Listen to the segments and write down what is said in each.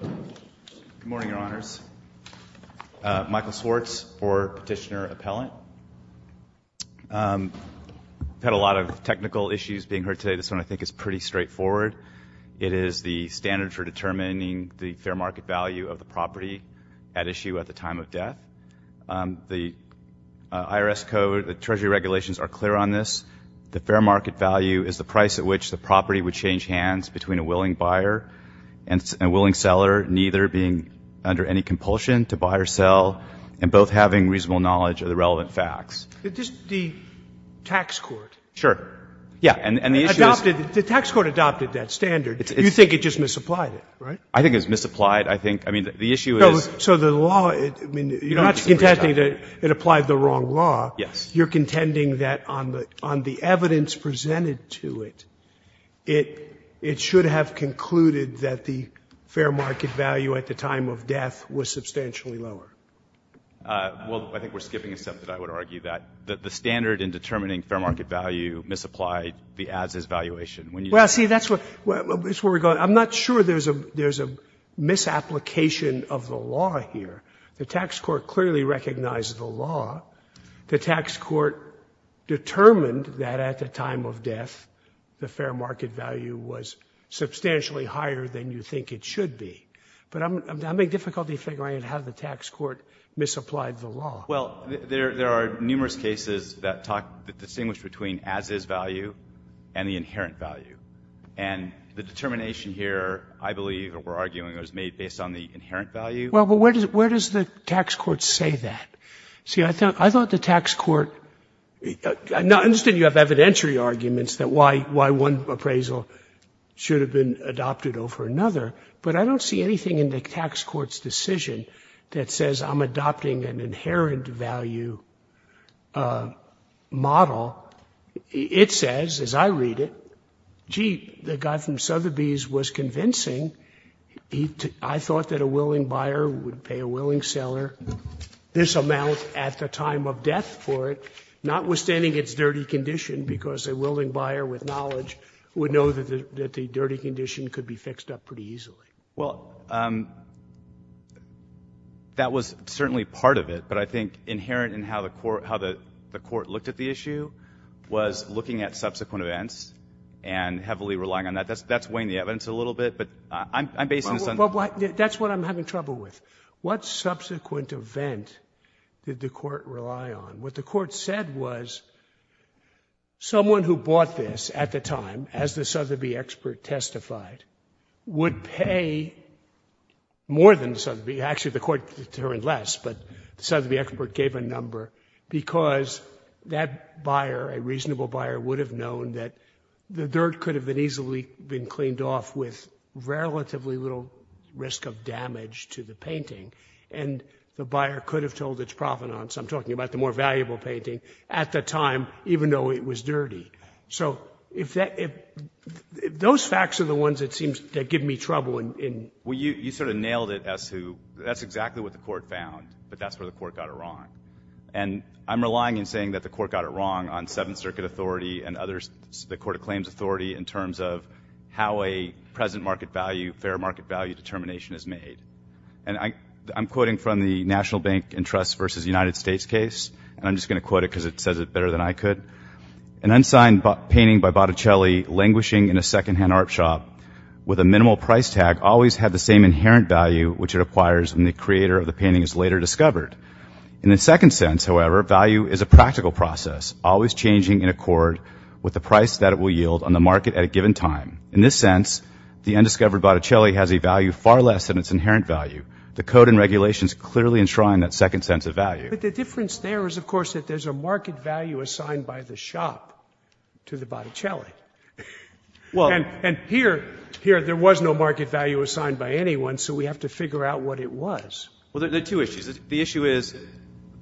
Good morning, Your Honors. Michael Swartz for Petitioner Appellant. We've had a lot of technical issues being heard today. This one I think is pretty straightforward. It is the standard for determining the fair market value of the property at issue at the time of death. The IRS code, the Treasury regulations are clear on this. The fair market value is the price at which the property would change hands between a willing buyer and a willing seller, neither being under any compulsion to buy or sell, and both having reasonable knowledge of the relevant facts. Sotomayor The tax court adopted that standard. You think it just misapplied it, right? Michael Swartz I think it's misapplied. I think the issue is Sotomayor So the law, you're not contending that it misapplied. It should have concluded that the fair market value at the time of death was substantially lower. Michael Swartz Well, I think we're skipping a step that I would argue that. The standard in determining fair market value misapplied the as-is valuation. When you Sotomayor Well, see, that's where we're going. I'm not sure there's a misapplication of the law here. The tax court clearly recognized the law. The tax court determined that at the time of death the fair market value was substantially higher than you think it should be. But I'm having difficulty figuring out how the tax court misapplied the law. Michael Swartz Well, there are numerous cases that talk that distinguish between as-is value and the inherent value. And the determination here, I believe, or we're arguing, was made based on the inherent value. Sotomayor Well, where does the tax court say that? See, I thought the tax court — I understand you have evidentiary arguments that why one appraisal should have been adopted over another. But I don't see anything in the tax court's decision that says I'm adopting an inherent value model. It says, as I read it, gee, the guy from Sotheby's was convincing. I thought that a willing buyer would pay a willing seller this amount at the time of death for it, notwithstanding its dirty condition, because a willing buyer with knowledge would know that the dirty condition could be fixed up pretty easily. Michael Swartz Well, that was certainly part of it. But I think inherent in how the court looked at the issue was looking at subsequent events and heavily relying on that. That's weighing the evidence a little bit. But subsequent event did the court rely on? What the court said was someone who bought this at the time, as the Sotheby expert testified, would pay more than Sotheby. Actually, the court deterred less, but the Sotheby expert gave a number because that buyer, a reasonable buyer, would have known that the dirt could have been easily been cleaned off with relatively little risk of damage to the painting. And the buyer could have told its provenance, I'm talking about the more valuable painting, at the time, even though it was dirty. So if those facts are the ones that seem to give me trouble in... Justice Breyer Well, you sort of nailed it as to that's exactly what the court found, but that's where the court got it wrong. And I'm relying in saying that the court got it wrong on Seventh Circuit authority and others, the court claims authority in terms of how a present market value, fair market value determination is made. And I'm quoting from the National Bank and Trust v. United States case, and I'm just going to quote it because it says it better than I could. An unsigned painting by Botticelli languishing in a secondhand art shop with a minimal price tag always had the same inherent value which it acquires when the creator of the painting is later discovered. In the second sense, however, value is a practical process, always changing in accord with the price that it will yield on the market at a given time. In this sense, the undiscovered Botticelli has a value far less than its inherent value. The code and regulations clearly enshrine that second sense of value. Scalia But the difference there is, of course, that there's a market value assigned by the shop to the Botticelli. And here, there was no market value assigned by anyone, so we have to figure out what it was. Justice Breyer Well, there are two issues. The issue is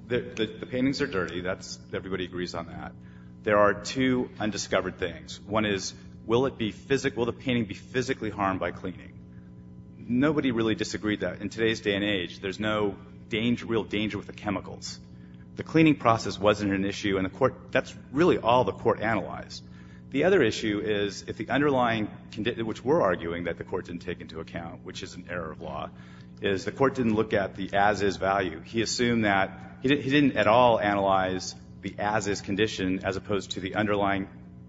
that the paintings are dirty. Everybody agrees on that. There are two undiscovered things. One is, will the painting be physically harmed by cleaning? Nobody really disagreed that. In today's day and age, there's no real danger with the chemicals. The cleaning process wasn't an issue, and that's really all the court analyzed. The other issue is if the underlying condition, which we're arguing that the court didn't take into account, which is an error of law, is the court didn't look at the as-is value. He assumed that he didn't at all analyze the as-is condition as opposed to the underlying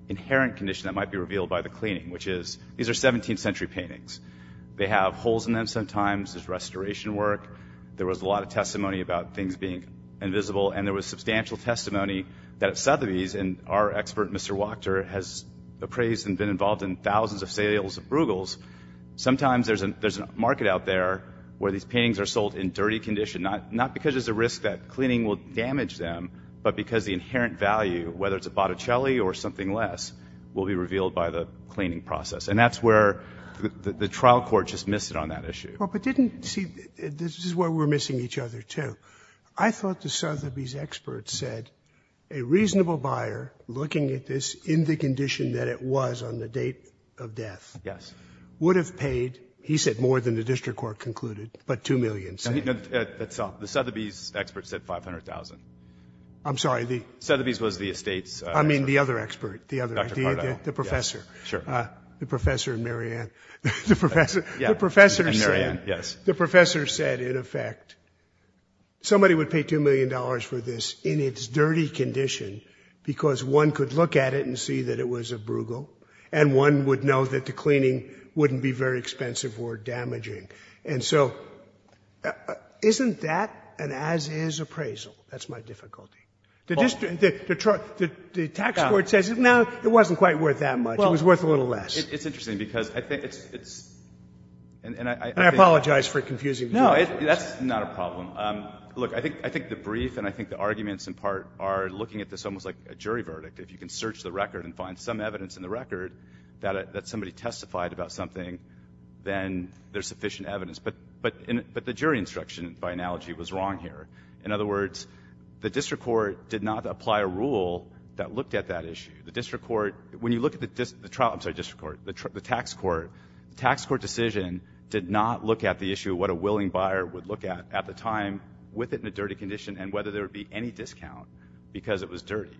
inherent condition that might be revealed by the cleaning, which is, these are 17th century paintings. They have holes in them sometimes. There's restoration work. There was a lot of testimony about things being invisible, and there was substantial testimony that at Sotheby's, and our expert, Mr. Wachter, has appraised and been involved in thousands of sales of Bruegels, sometimes there's a market out there where these paintings are not because there's a risk that cleaning will damage them, but because the inherent value, whether it's a Botticelli or something less, will be revealed by the cleaning process. And that's where the trial court just missed it on that issue. Well, but didn't, see, this is where we're missing each other, too. I thought the Sotheby's expert said a reasonable buyer, looking at this in the condition that it was on the date of death, would have paid, he said, more than the district court concluded, but $2 million. No, no, at Sotheby's, the expert said $500,000. I'm sorry, the... Sotheby's was the estate's... I mean, the other expert, the other, the professor. Sure. The professor and Mary Ann. The professor, the professor said, in effect, somebody would pay $2 million for this in its dirty condition because one could look at it and see that it was a Bruegel, and one would know that the cleaning wouldn't be very expensive or damaging. And so isn't that an as-is appraisal? That's my difficulty. The district, the tax court says, no, it wasn't quite worth that much. It was worth a little less. Well, it's interesting because I think it's, it's, and I... And I apologize for confusing you. No, that's not a problem. Look, I think, I think the brief and I think the arguments in part are looking at this almost like a jury verdict. If you can search the record and find some evidence in the record that, that somebody testified about something, then there's sufficient evidence. But, but, but the jury instruction by analogy was wrong here. In other words, the district court did not apply a rule that looked at that issue. The district court, when you look at the trial, I'm sorry, district court, the tax court, tax court decision did not look at the issue of what a willing buyer would look at at the time with it in a dirty condition and whether there would be any discount because it was dirty.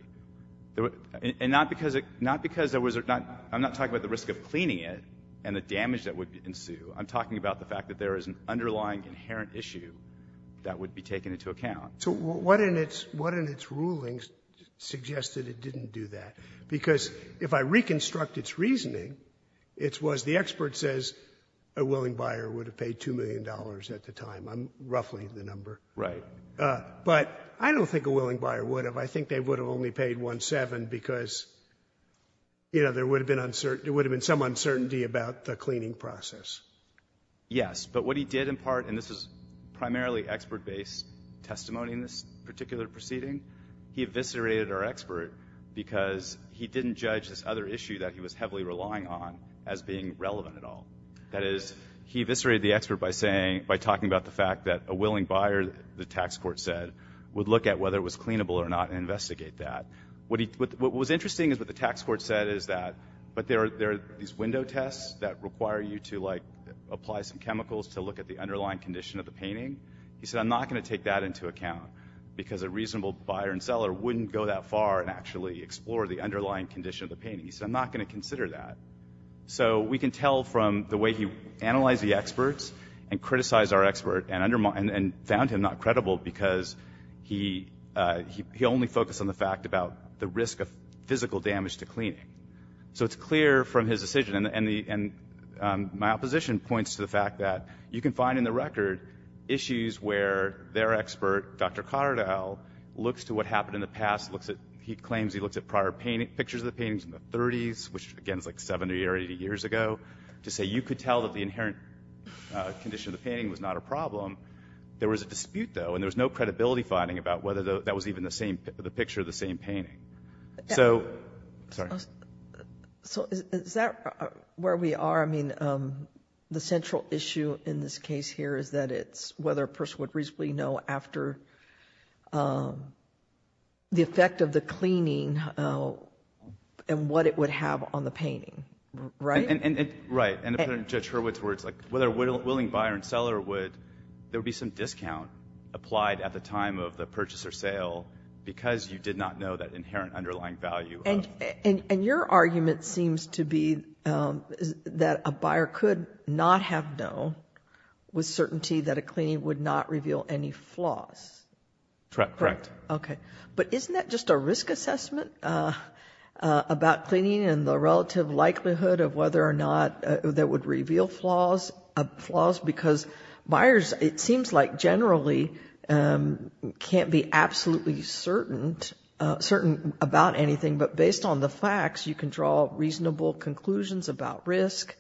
And not because it, not because there was not, I'm not talking about the risk of cleaning it and the damage that would ensue. I'm talking about the fact that there is an underlying inherent issue that would be taken into account. So what in its, what in its rulings suggested it didn't do that? Because if I reconstruct its reasoning, it was the expert says a willing buyer would have paid $2 million at the time. I'm roughly the number. Right. But I don't think a willing buyer would have. I think they would have only paid one seven because, you know, there would have been uncertainty. There would have been some uncertainty about the cleaning process. Yes, but what he did in part, and this is primarily expert based testimony in this particular proceeding, he eviscerated our expert because he didn't judge this other issue that he was heavily relying on as being relevant at all. That is, he eviscerated the expert by saying, by talking about the fact that a willing buyer, the tax court said, would look at whether it was cleanable or not and investigate that. What he, what was interesting is what the tax court said is that, but there are, there are these window tests that require you to like apply some chemicals to look at the underlying condition of the painting. He said, I'm not going to take that into account because a reasonable buyer and seller wouldn't go that far and actually explore the underlying condition of the painting. He said, I'm not going to consider that. So we can tell from the way he analyzed the experts and criticized our expert and undermined and found him not credible because he, he only focused on the fact about the risk of physical damage to cleaning. So it's clear from his decision and the, and my opposition points to the fact that you can find in the record issues where their expert, Dr. Cotterdell, looks to what happened in the past, looks at, he claims he looks at prior painting, pictures of the paintings in the 30s, which again is like 70 or 80 years ago, to say you could tell that the inherent condition of the painting was not a problem. There was a dispute though, and there was no credibility finding about whether that was even the same, the picture of the same painting. So, sorry. So is that where we are? I mean, the central issue in this case here is that it's whether a person would reasonably know after the effect of the cleaning and what it would have on the painting, right? Right. And Judge Hurwitz's words, like whether a willing buyer and seller would, there would be some discount applied at the time of the purchase or sale because you did not know that inherent underlying value. And, and your argument seems to be that a buyer could not have known with certainty that a cleaning would not reveal any flaws. Correct, correct. Okay. But isn't that just a risk assessment about cleaning and the relative likelihood of whether or not that would reveal flaws because buyers, it seems like generally can't be absolutely certain about anything, but based on the facts, you can draw reasonable conclusions about risk.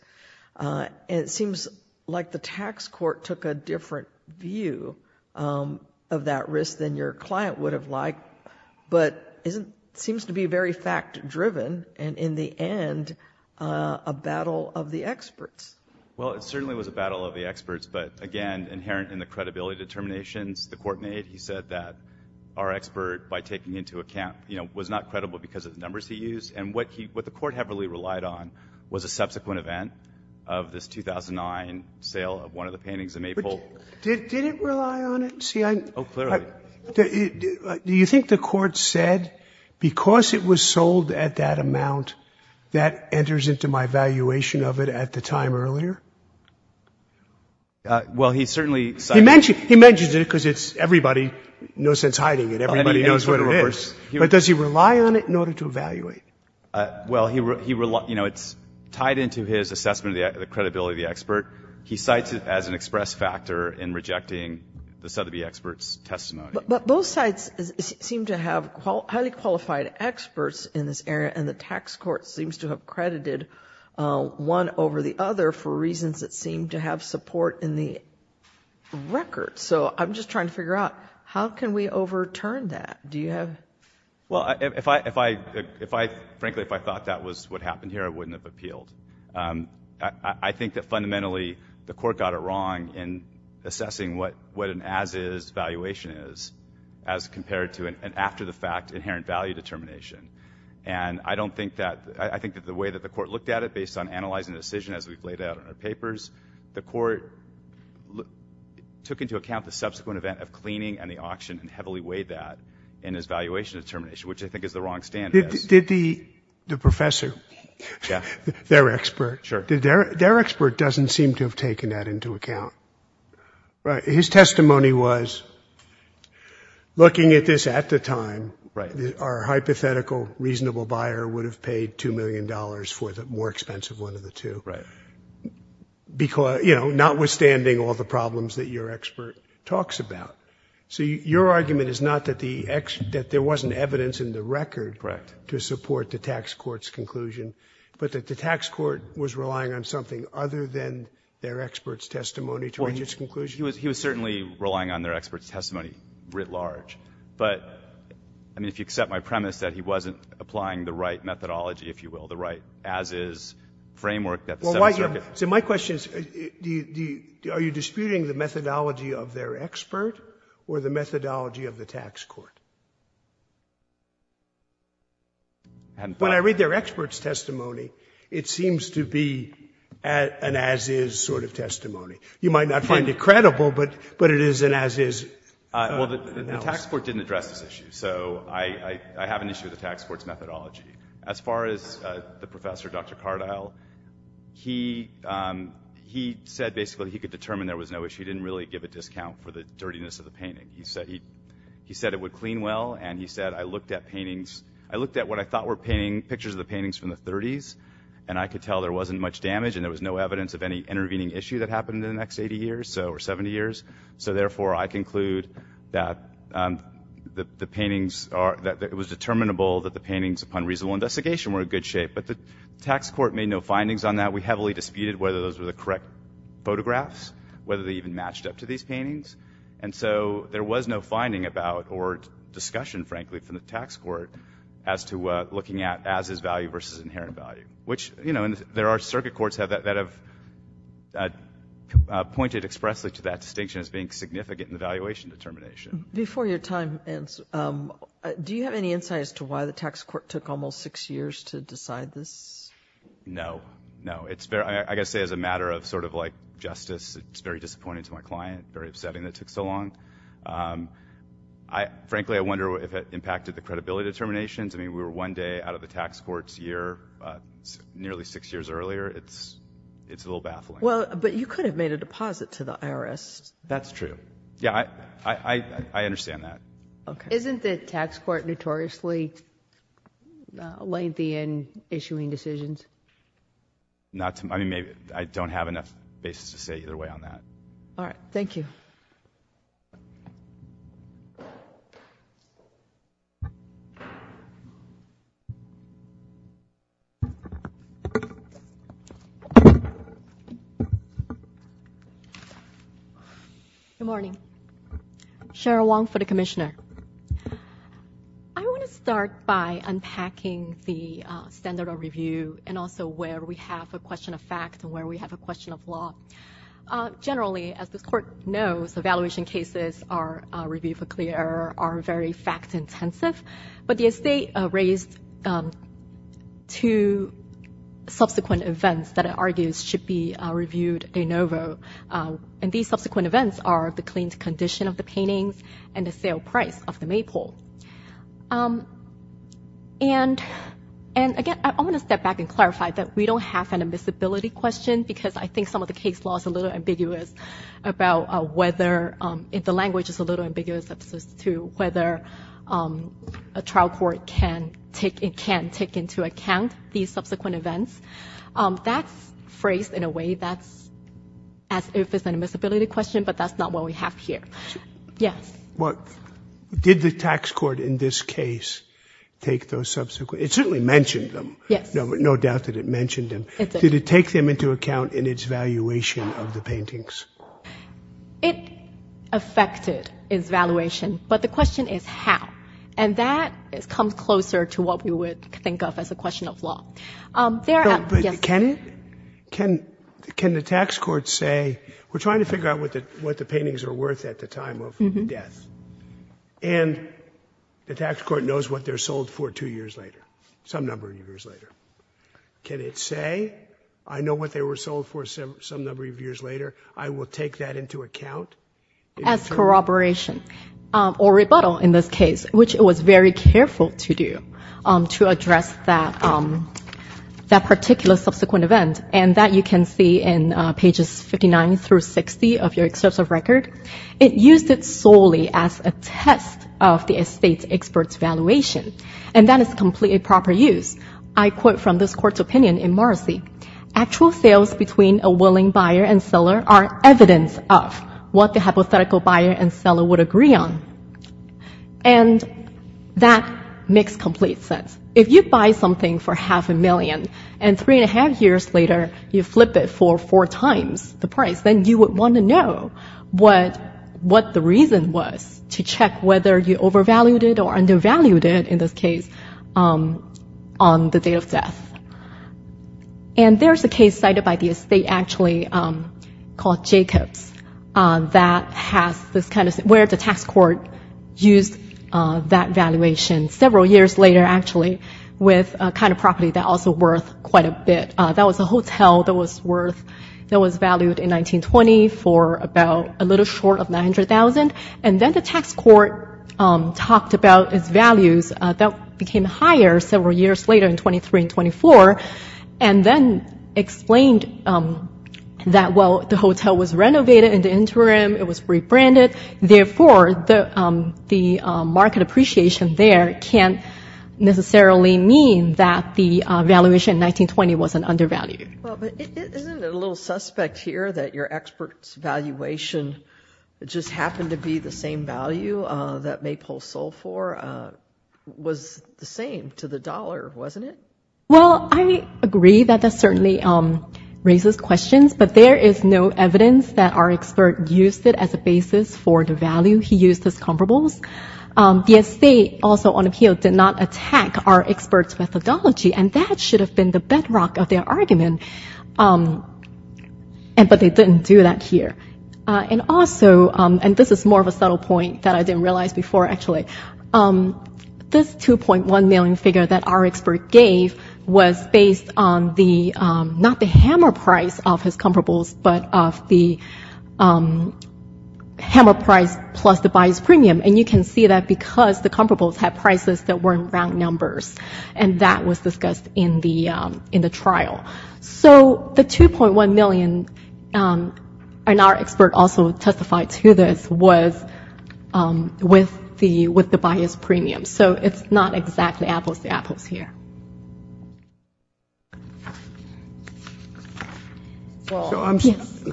And it seems like the tax court took a different view of that risk than your client would have but it seems to be very fact driven. And in the end, a battle of the experts. Well, it certainly was a battle of the experts, but again, inherent in the credibility determinations the court made, he said that our expert by taking into account, you know, was not credible because of the numbers he used and what he, what the court heavily relied on was a subsequent event of this 2009 sale of one of the paintings in Maple. Did it rely on it? Oh, clearly. Do you think the court said, because it was sold at that amount, that enters into my valuation of it at the time earlier? Well, he certainly said. He mentioned it because it's everybody, no sense hiding it. Everybody knows what it is. But does he rely on it in order to evaluate? Well, he, you know, it's tied into his assessment of the credibility of the expert. He cites it as an express factor in rejecting the Sotheby expert's testimony. But both sides seem to have highly qualified experts in this area and the tax court seems to have credited one over the other for reasons that seem to have support in the record. So I'm just trying to figure out, how can we overturn that? Do you have? Well, if I, frankly, if I thought that was what happened here, I wouldn't have appealed. I think that fundamentally the court got it wrong in assessing what an as-is valuation is as compared to an after-the-fact inherent value determination. And I don't think that, I think that the way that the court looked at it based on analyzing the decision as we've laid out in our papers, the court took into account the subsequent event of cleaning and the auction and heavily weighed that in his valuation determination, which I think is the wrong standard. Did the professor, their expert, their expert doesn't seem to have taken that into account. Right. His testimony was, looking at this at the time, our hypothetical reasonable buyer would have paid $2 million for the more expensive one of the two, because, you know, notwithstanding all the problems that your expert talks about. So your argument is not that there wasn't evidence in the record to support the tax court's conclusion, but that the tax court was relying on something other than their expert's testimony to reach its conclusion? He was certainly relying on their expert's testimony writ large. But, I mean, if you accept my premise that he wasn't applying the right methodology, if you will, the right as-is framework that the Seventh Circuit— So my question is, are you disputing the methodology of their expert? Or the methodology of the tax court? When I read their expert's testimony, it seems to be an as-is sort of testimony. You might not find it credible, but it is an as-is. Well, the tax court didn't address this issue. So I have an issue with the tax court's methodology. As far as the professor, Dr. Cardile, he said basically he could determine there was no a discount for the dirtiness of the painting. He said it would clean well. And he said, I looked at paintings—I looked at what I thought were pictures of the paintings from the 30s, and I could tell there wasn't much damage and there was no evidence of any intervening issue that happened in the next 80 years or 70 years. So therefore, I conclude that the paintings are—that it was determinable that the paintings upon reasonable investigation were in good shape. But the tax court made no findings on that. We heavily disputed whether those were the correct photographs, whether they even matched up to these paintings. And so there was no finding about or discussion, frankly, from the tax court as to looking at as-is value versus inherent value. Which, you know, there are circuit courts that have pointed expressly to that distinction as being significant in the valuation determination. Before your time ends, do you have any insight as to why the tax court took almost six years to decide this? No. No. It's very—I've got to say, as a matter of sort of like justice, it's very disappointing to my client, very upsetting that it took so long. Frankly, I wonder if it impacted the credibility determinations. I mean, we were one day out of the tax court's year nearly six years earlier. It's a little baffling. Well, but you could have made a deposit to the IRS. That's true. Yeah, I understand that. Isn't the tax court notoriously lengthy in issuing decisions? Not to—I mean, I don't have enough basis to say either way on that. All right. Thank you. Good morning. Cheryl Wong for the Commissioner. I want to start by unpacking the standard of review and also where we have a question of fact and where we have a question of law. Generally, as this court knows, evaluation cases are—review for clear error are very fact-intensive, but the estate raised two subsequent events that it argues should be reviewed de novo, and these subsequent events are the cleaned condition of the paintings and the sale price of the maple. And again, I want to step back and clarify that we don't have an admissibility question because I think some of the case law is a little ambiguous about whether—the language is a little ambiguous as to whether a trial court can take into account these subsequent events. That's phrased in a way that's as if it's an admissibility question, but that's not what we have here. Yes. Well, did the tax court in this case take those subsequent—it certainly mentioned them. Yes. No doubt that it mentioned them. Did it take them into account in its valuation of the paintings? It affected its valuation, but the question is how, and that comes closer to what we would think of as a question of law. There— No, but can the tax court say, we're trying to figure out what the paintings are worth at the time of death, and the tax court knows what they're sold for two years later, some number of years later. Can it say, I know what they were sold for some number of years later, I will take that into account? As corroboration or rebuttal in this case, which it was very careful to do, to address that particular subsequent event, and that you can see in pages 59 through 60 of your excerpt of record. It used it solely as a test of the estate expert's valuation, and that is completely proper use. I quote from this court's opinion in Marcy, actual sales between a willing buyer and seller are evidence of what the hypothetical buyer and seller would agree on, and that makes complete sense. If you buy something for half a million, and three and a half years later, you flip it for four times the price, then you would want to know what the reason was to check whether you overvalued it or undervalued it, in this case, on the date of death. And there's a case cited by the estate, actually, called Jacobs, that has this kind of, where the tax court used that valuation several years later, actually, with a kind of property that also worth quite a bit. That was a hotel that was worth, that was valued in 1920 for about a little short of $900,000, and then the tax court talked about its values. That became higher several years later in 23 and 24, and then explained that, well, the hotel was renovated in the interim, it was rebranded, therefore, the market appreciation there can't necessarily mean that the valuation in 1920 wasn't undervalued. Well, but isn't it a little suspect here that your expert's valuation just happened to be the same value that Maypole sold for was the same to the dollar, wasn't it? Well, I agree that that certainly raises questions, but there is no evidence that our expert used it as a basis for the value he used as comparables. The estate, also on appeal, did not attack our expert's methodology, and that should have been the bedrock of their argument, but they didn't do that here. And also, and this is more of a subtle point that I didn't realize before, actually, this $2.1 million figure that our expert gave was based on the, not the hammer price of his comparables, but of the hammer price plus the buyer's premium, and you can see that because the comparables had prices that weren't round numbers, and that was discussed in the trial. So, the $2.1 million, and our expert also testified to this, was with the buyer's premium. So, it's not exactly apples to apples here. Well,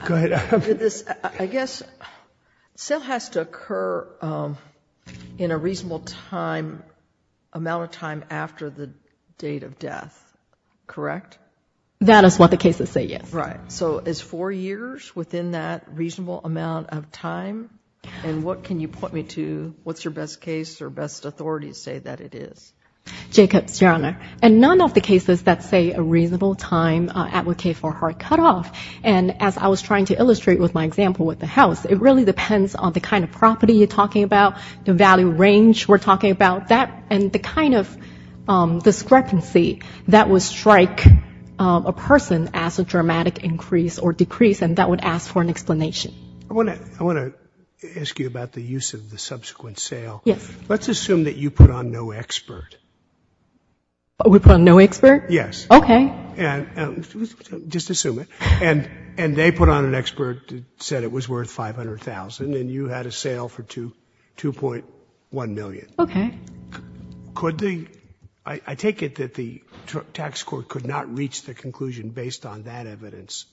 I guess, sale has to occur in a reasonable amount of time after the date of death, correct? That is what the cases say, yes. Right. So, it's four years within that reasonable amount of time, and what can you point me to, what's your best case or best authority to say that it is? Jacobs, Your Honor, and none of the cases that say a reasonable time advocate for hard cutoff, and as I was trying to illustrate with my example with the house, it really depends on the kind of property you're talking about, the value range we're talking about, and the kind of discrepancy that would strike a person as a dramatic increase or decrease, and that would ask for an explanation. I want to ask you about the use of the subsequent sale. Yes. Let's assume that you put on no expert. We put on no expert? Yes. Okay. And just assume it, and they put on an expert that said it was worth $500,000, and you had a sale for $2.1 million. Okay. Could they, I take it that the tax court could not reach the conclusion based on that evidence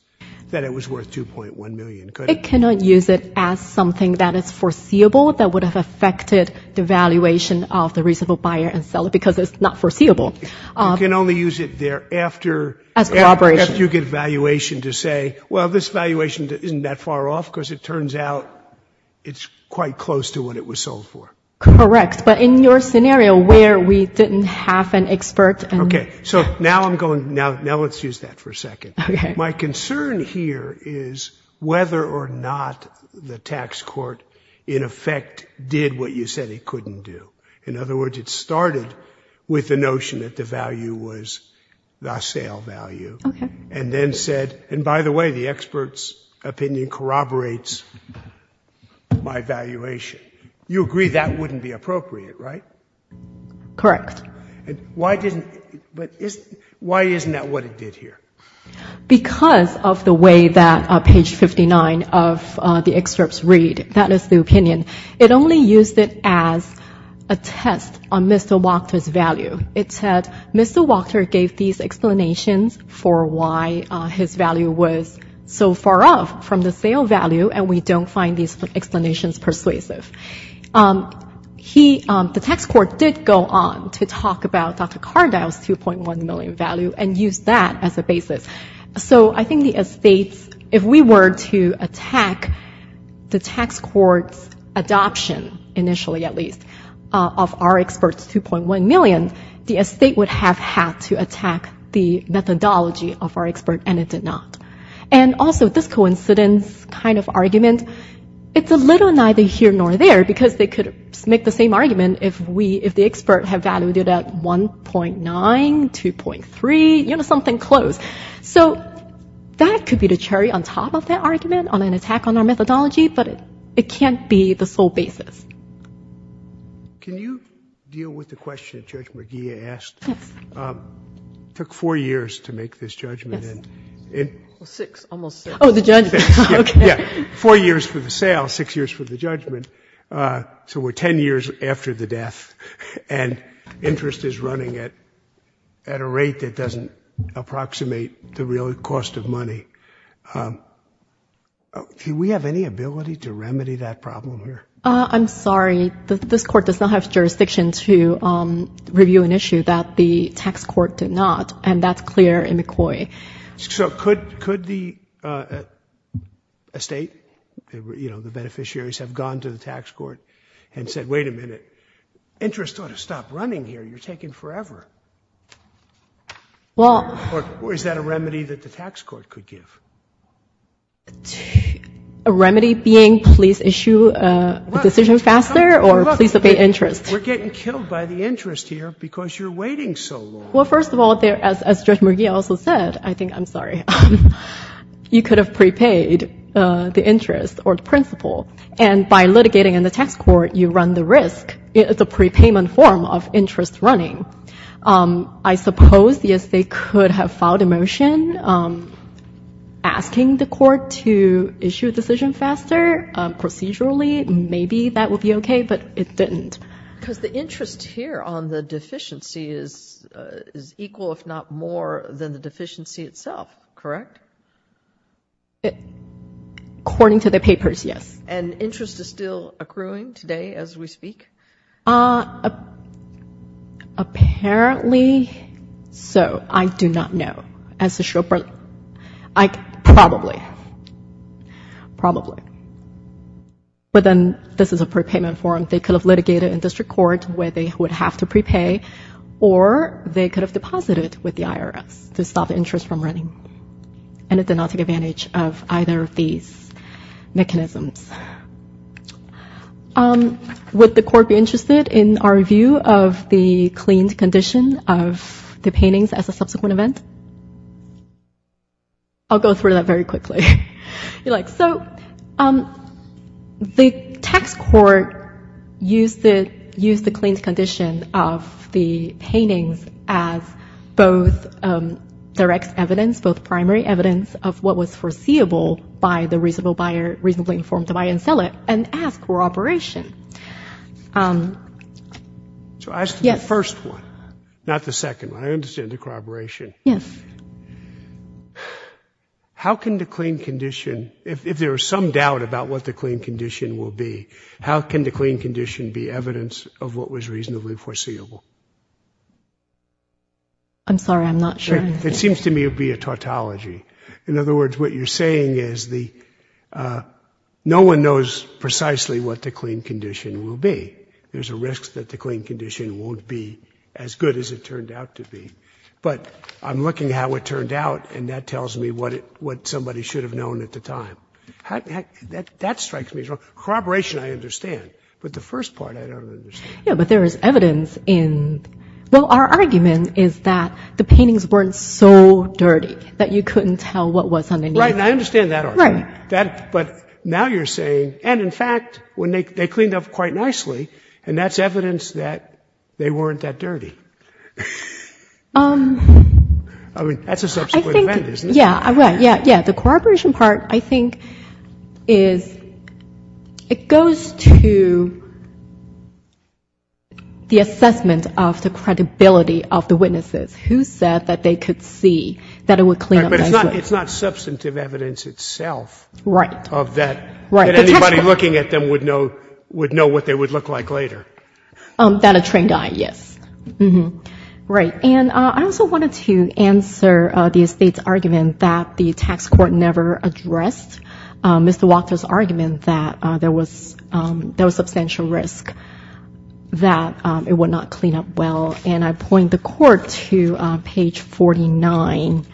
that it was worth $2.1 million, could it? It cannot use it as something that is foreseeable, that would have affected the valuation of the reasonable buyer and seller, because it's not foreseeable. You can only use it there after you get a valuation to say, well, this valuation isn't that far off, because it turns out it's quite close to what it was sold for. Correct. But in your scenario where we didn't have an expert and— Okay. So now I'm going, now let's use that for a second. Okay. My concern here is whether or not the tax court in effect did what you said it couldn't do. In other words, it started with the notion that the value was the sale value. Okay. And then said, and by the way, the expert's opinion corroborates my valuation. You agree that wouldn't be appropriate, right? Correct. And why didn't, but isn't, why isn't that what it did here? Because of the way that page 59 of the excerpts read. That is the opinion. It only used it as a test on Mr. Wachter's value. It said, Mr. Wachter gave these explanations for why his value was so far off from the sale value, and we don't find these explanations persuasive. Um, he, um, the tax court did go on to talk about Dr. Cardile's 2.1 million value and use that as a basis. So I think the estates, if we were to attack the tax court's adoption, initially at least, of our expert's 2.1 million, the estate would have had to attack the methodology of our expert, and it did not. And also, this coincidence kind of argument, it's a little neither here nor there, because they could make the same argument if we, if the expert had valued it at 1.9, 2.3, you know, something close. So that could be the cherry on top of that argument, on an attack on our methodology, but it can't be the sole basis. Can you deal with the question Judge McGee asked? Yes. It took four years to make this judgment. Yes. Six, almost six. Oh, the judgment, okay. Yeah, four years for the sale, six years for the judgment. So we're 10 years after the death, and interest is running at a rate that doesn't approximate the real cost of money. Do we have any ability to remedy that problem here? I'm sorry. This Court does not have jurisdiction to review an issue that the tax court did not, and that's clear in McCoy. So could the estate, you know, the beneficiaries have gone to the tax court and said, wait a minute, interest ought to stop running here. You're taking forever. Or is that a remedy that the tax court could give? A remedy being please issue a decision faster or please obey interest? We're getting killed by the interest here because you're waiting so long. Well, first of all, as Judge McGee also said, I think, I'm sorry, you could have prepaid the interest or the principal, and by litigating in the tax court, you run the risk. It's a prepayment form of interest running. I suppose, yes, they could have filed a motion asking the court to issue a decision faster procedurally. Maybe that would be okay, but it didn't. Because the interest here on the deficiency is equal, if not more, than the deficiency itself, correct? According to the papers, yes. And interest is still accruing today as we speak? Uh, apparently so. I do not know. As to show, I probably, probably. But then this is a prepayment form. They could have litigated in district court where they would have to prepay, or they could have deposited with the IRS to stop the interest from running. And it did not take advantage of either of these mechanisms. Um, would the court be interested in our view of the cleaned condition of the paintings as a subsequent event? I'll go through that very quickly. You're like, so, um, the tax court used the, used the cleaned condition of the paintings as both direct evidence, both primary evidence of what was foreseeable by the reasonable buyer, reasonably informed device. And then they could buy and sell it and ask for operation. Um, so as to the first one, not the second one, I understand the corroboration. Yes. How can the clean condition, if there is some doubt about what the clean condition will be, how can the clean condition be evidence of what was reasonably foreseeable? I'm sorry, I'm not sure. It seems to me it would be a tautology. In other words, what you're saying is the, uh, no one knows precisely what the clean condition will be. There's a risk that the clean condition won't be as good as it turned out to be, but I'm looking at how it turned out and that tells me what it, what somebody should have known at the time. That strikes me as well. Corroboration, I understand, but the first part I don't understand. Yeah, but there is evidence in, well, our argument is that the paintings weren't so clean that you couldn't tell what was underneath. Right, and I understand that argument. Right. But now you're saying, and in fact, when they cleaned up quite nicely, and that's evidence that they weren't that dirty. Um. I mean, that's a subsequent event, isn't it? Yeah, right, yeah, yeah. The corroboration part, I think, is, it goes to the assessment of the credibility of the witnesses who said that they could see that it would clean up nicely. It's not substantive evidence itself. Right. Of that, that anybody looking at them would know what they would look like later. That a train died, yes. Right, and I also wanted to answer the estate's argument that the tax court never addressed Mr. Walker's argument that there was substantial risk that it would not clean up well, and I point the court to page 49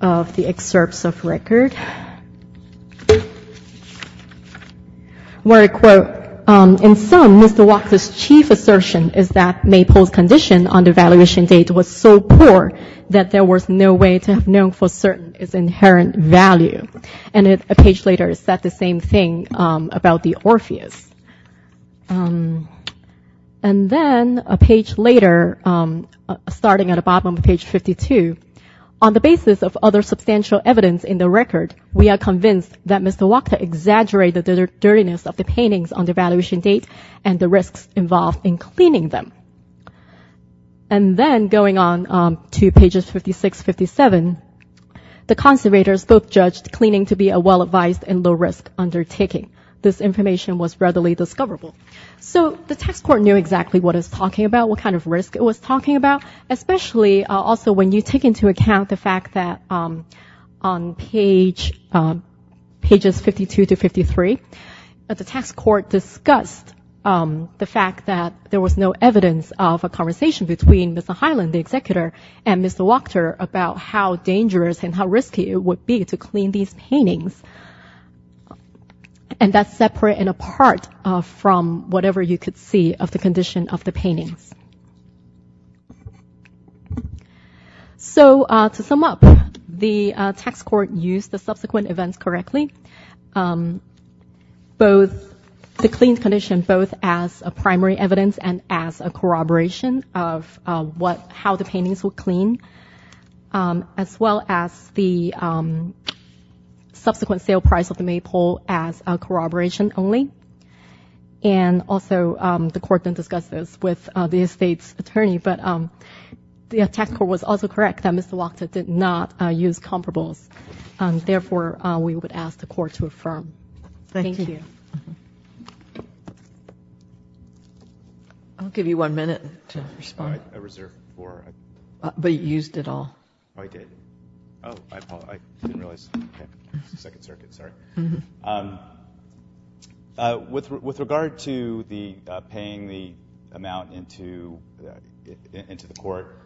of the excerpts of record, where I quote, In sum, Mr. Walker's chief assertion is that Maypole's condition on the valuation date was so poor that there was no way to have known for certain its inherent value. And a page later, it said the same thing about the Orpheus. And then a page later, starting at the bottom of page 52, on the basis of other substantial evidence in the record, we are convinced that Mr. Walker exaggerated the dirtiness of the paintings on the valuation date and the risks involved in cleaning them. And then going on to pages 56, 57, the conservators both judged cleaning to be a well-advised and low-risk undertaking. This information was readily discoverable. So the tax court knew exactly what it was talking about, what kind of risk it was talking about, especially also when you take into account the fact that on pages 52 to 53, the tax court discussed the fact that there was no evidence of a conversation between Mr. Highland, the executor, and Mr. Walker about how dangerous and how risky it would to clean these paintings. And that's separate and apart from whatever you could see of the condition of the paintings. So to sum up, the tax court used the subsequent events correctly, both the clean condition, both as a primary evidence and as a corroboration of how the subsequent sale price of the Maypole as a corroboration only. And also, the court then discussed this with the estate's attorney. But the tax court was also correct that Mr. Walker did not use comparables. Therefore, we would ask the court to affirm. Thank you. I'll give you one minute to respond. I reserved four. But you used it all. I did. Oh, I didn't realize. Second circuit, sorry. With regard to the paying the amount into the court,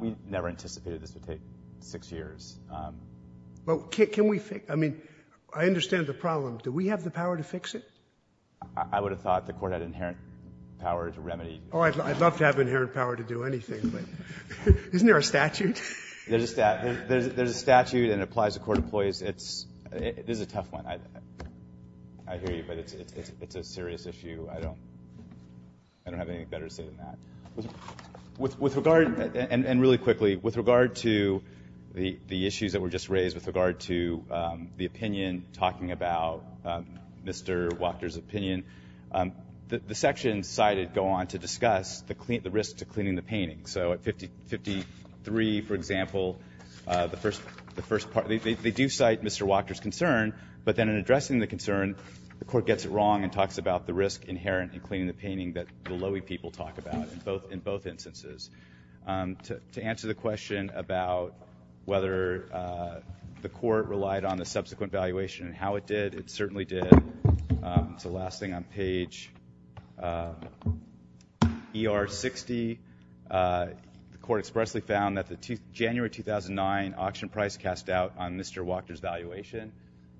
we never anticipated this would take six years. Well, can we fix? I mean, I understand the problem. Do we have the power to fix it? I would have thought the court had inherent power to remedy. Oh, I'd love to have inherent power to do anything, but isn't there a statute? There's a statute and it applies to court employees. This is a tough one. I hear you, but it's a serious issue. I don't have anything better to say than that. And really quickly, with regard to the issues that were just raised with regard to the opinion, talking about Mr. Walker's opinion, the section cited go on to discuss the risk to cleaning the painting. So at 53, for example, the first part, they do cite Mr. Walker's concern, but then in addressing the concern, the court gets it wrong and talks about the risk inherent in cleaning the painting that the Lowy people talk about in both instances. To answer the question about whether the court relied on the subsequent valuation and how it did, it certainly did. It's the last thing on page ER 60. The court expressly found that the January 2009 auction price cast out on Mr. Walker's valuation.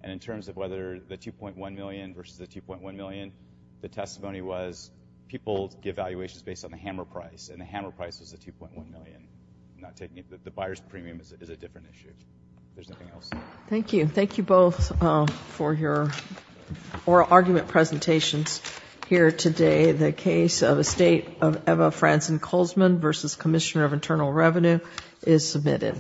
And in terms of whether the 2.1 million versus the 2.1 million, the testimony was people give valuations based on the hammer price and the hammer price was the 2.1 million. The buyer's premium is a different issue. There's nothing else. Thank you. Thank you both for your oral argument presentations here today. The case of a state of Eva Franzen Colesman versus Commissioner of Internal Revenue is submitted.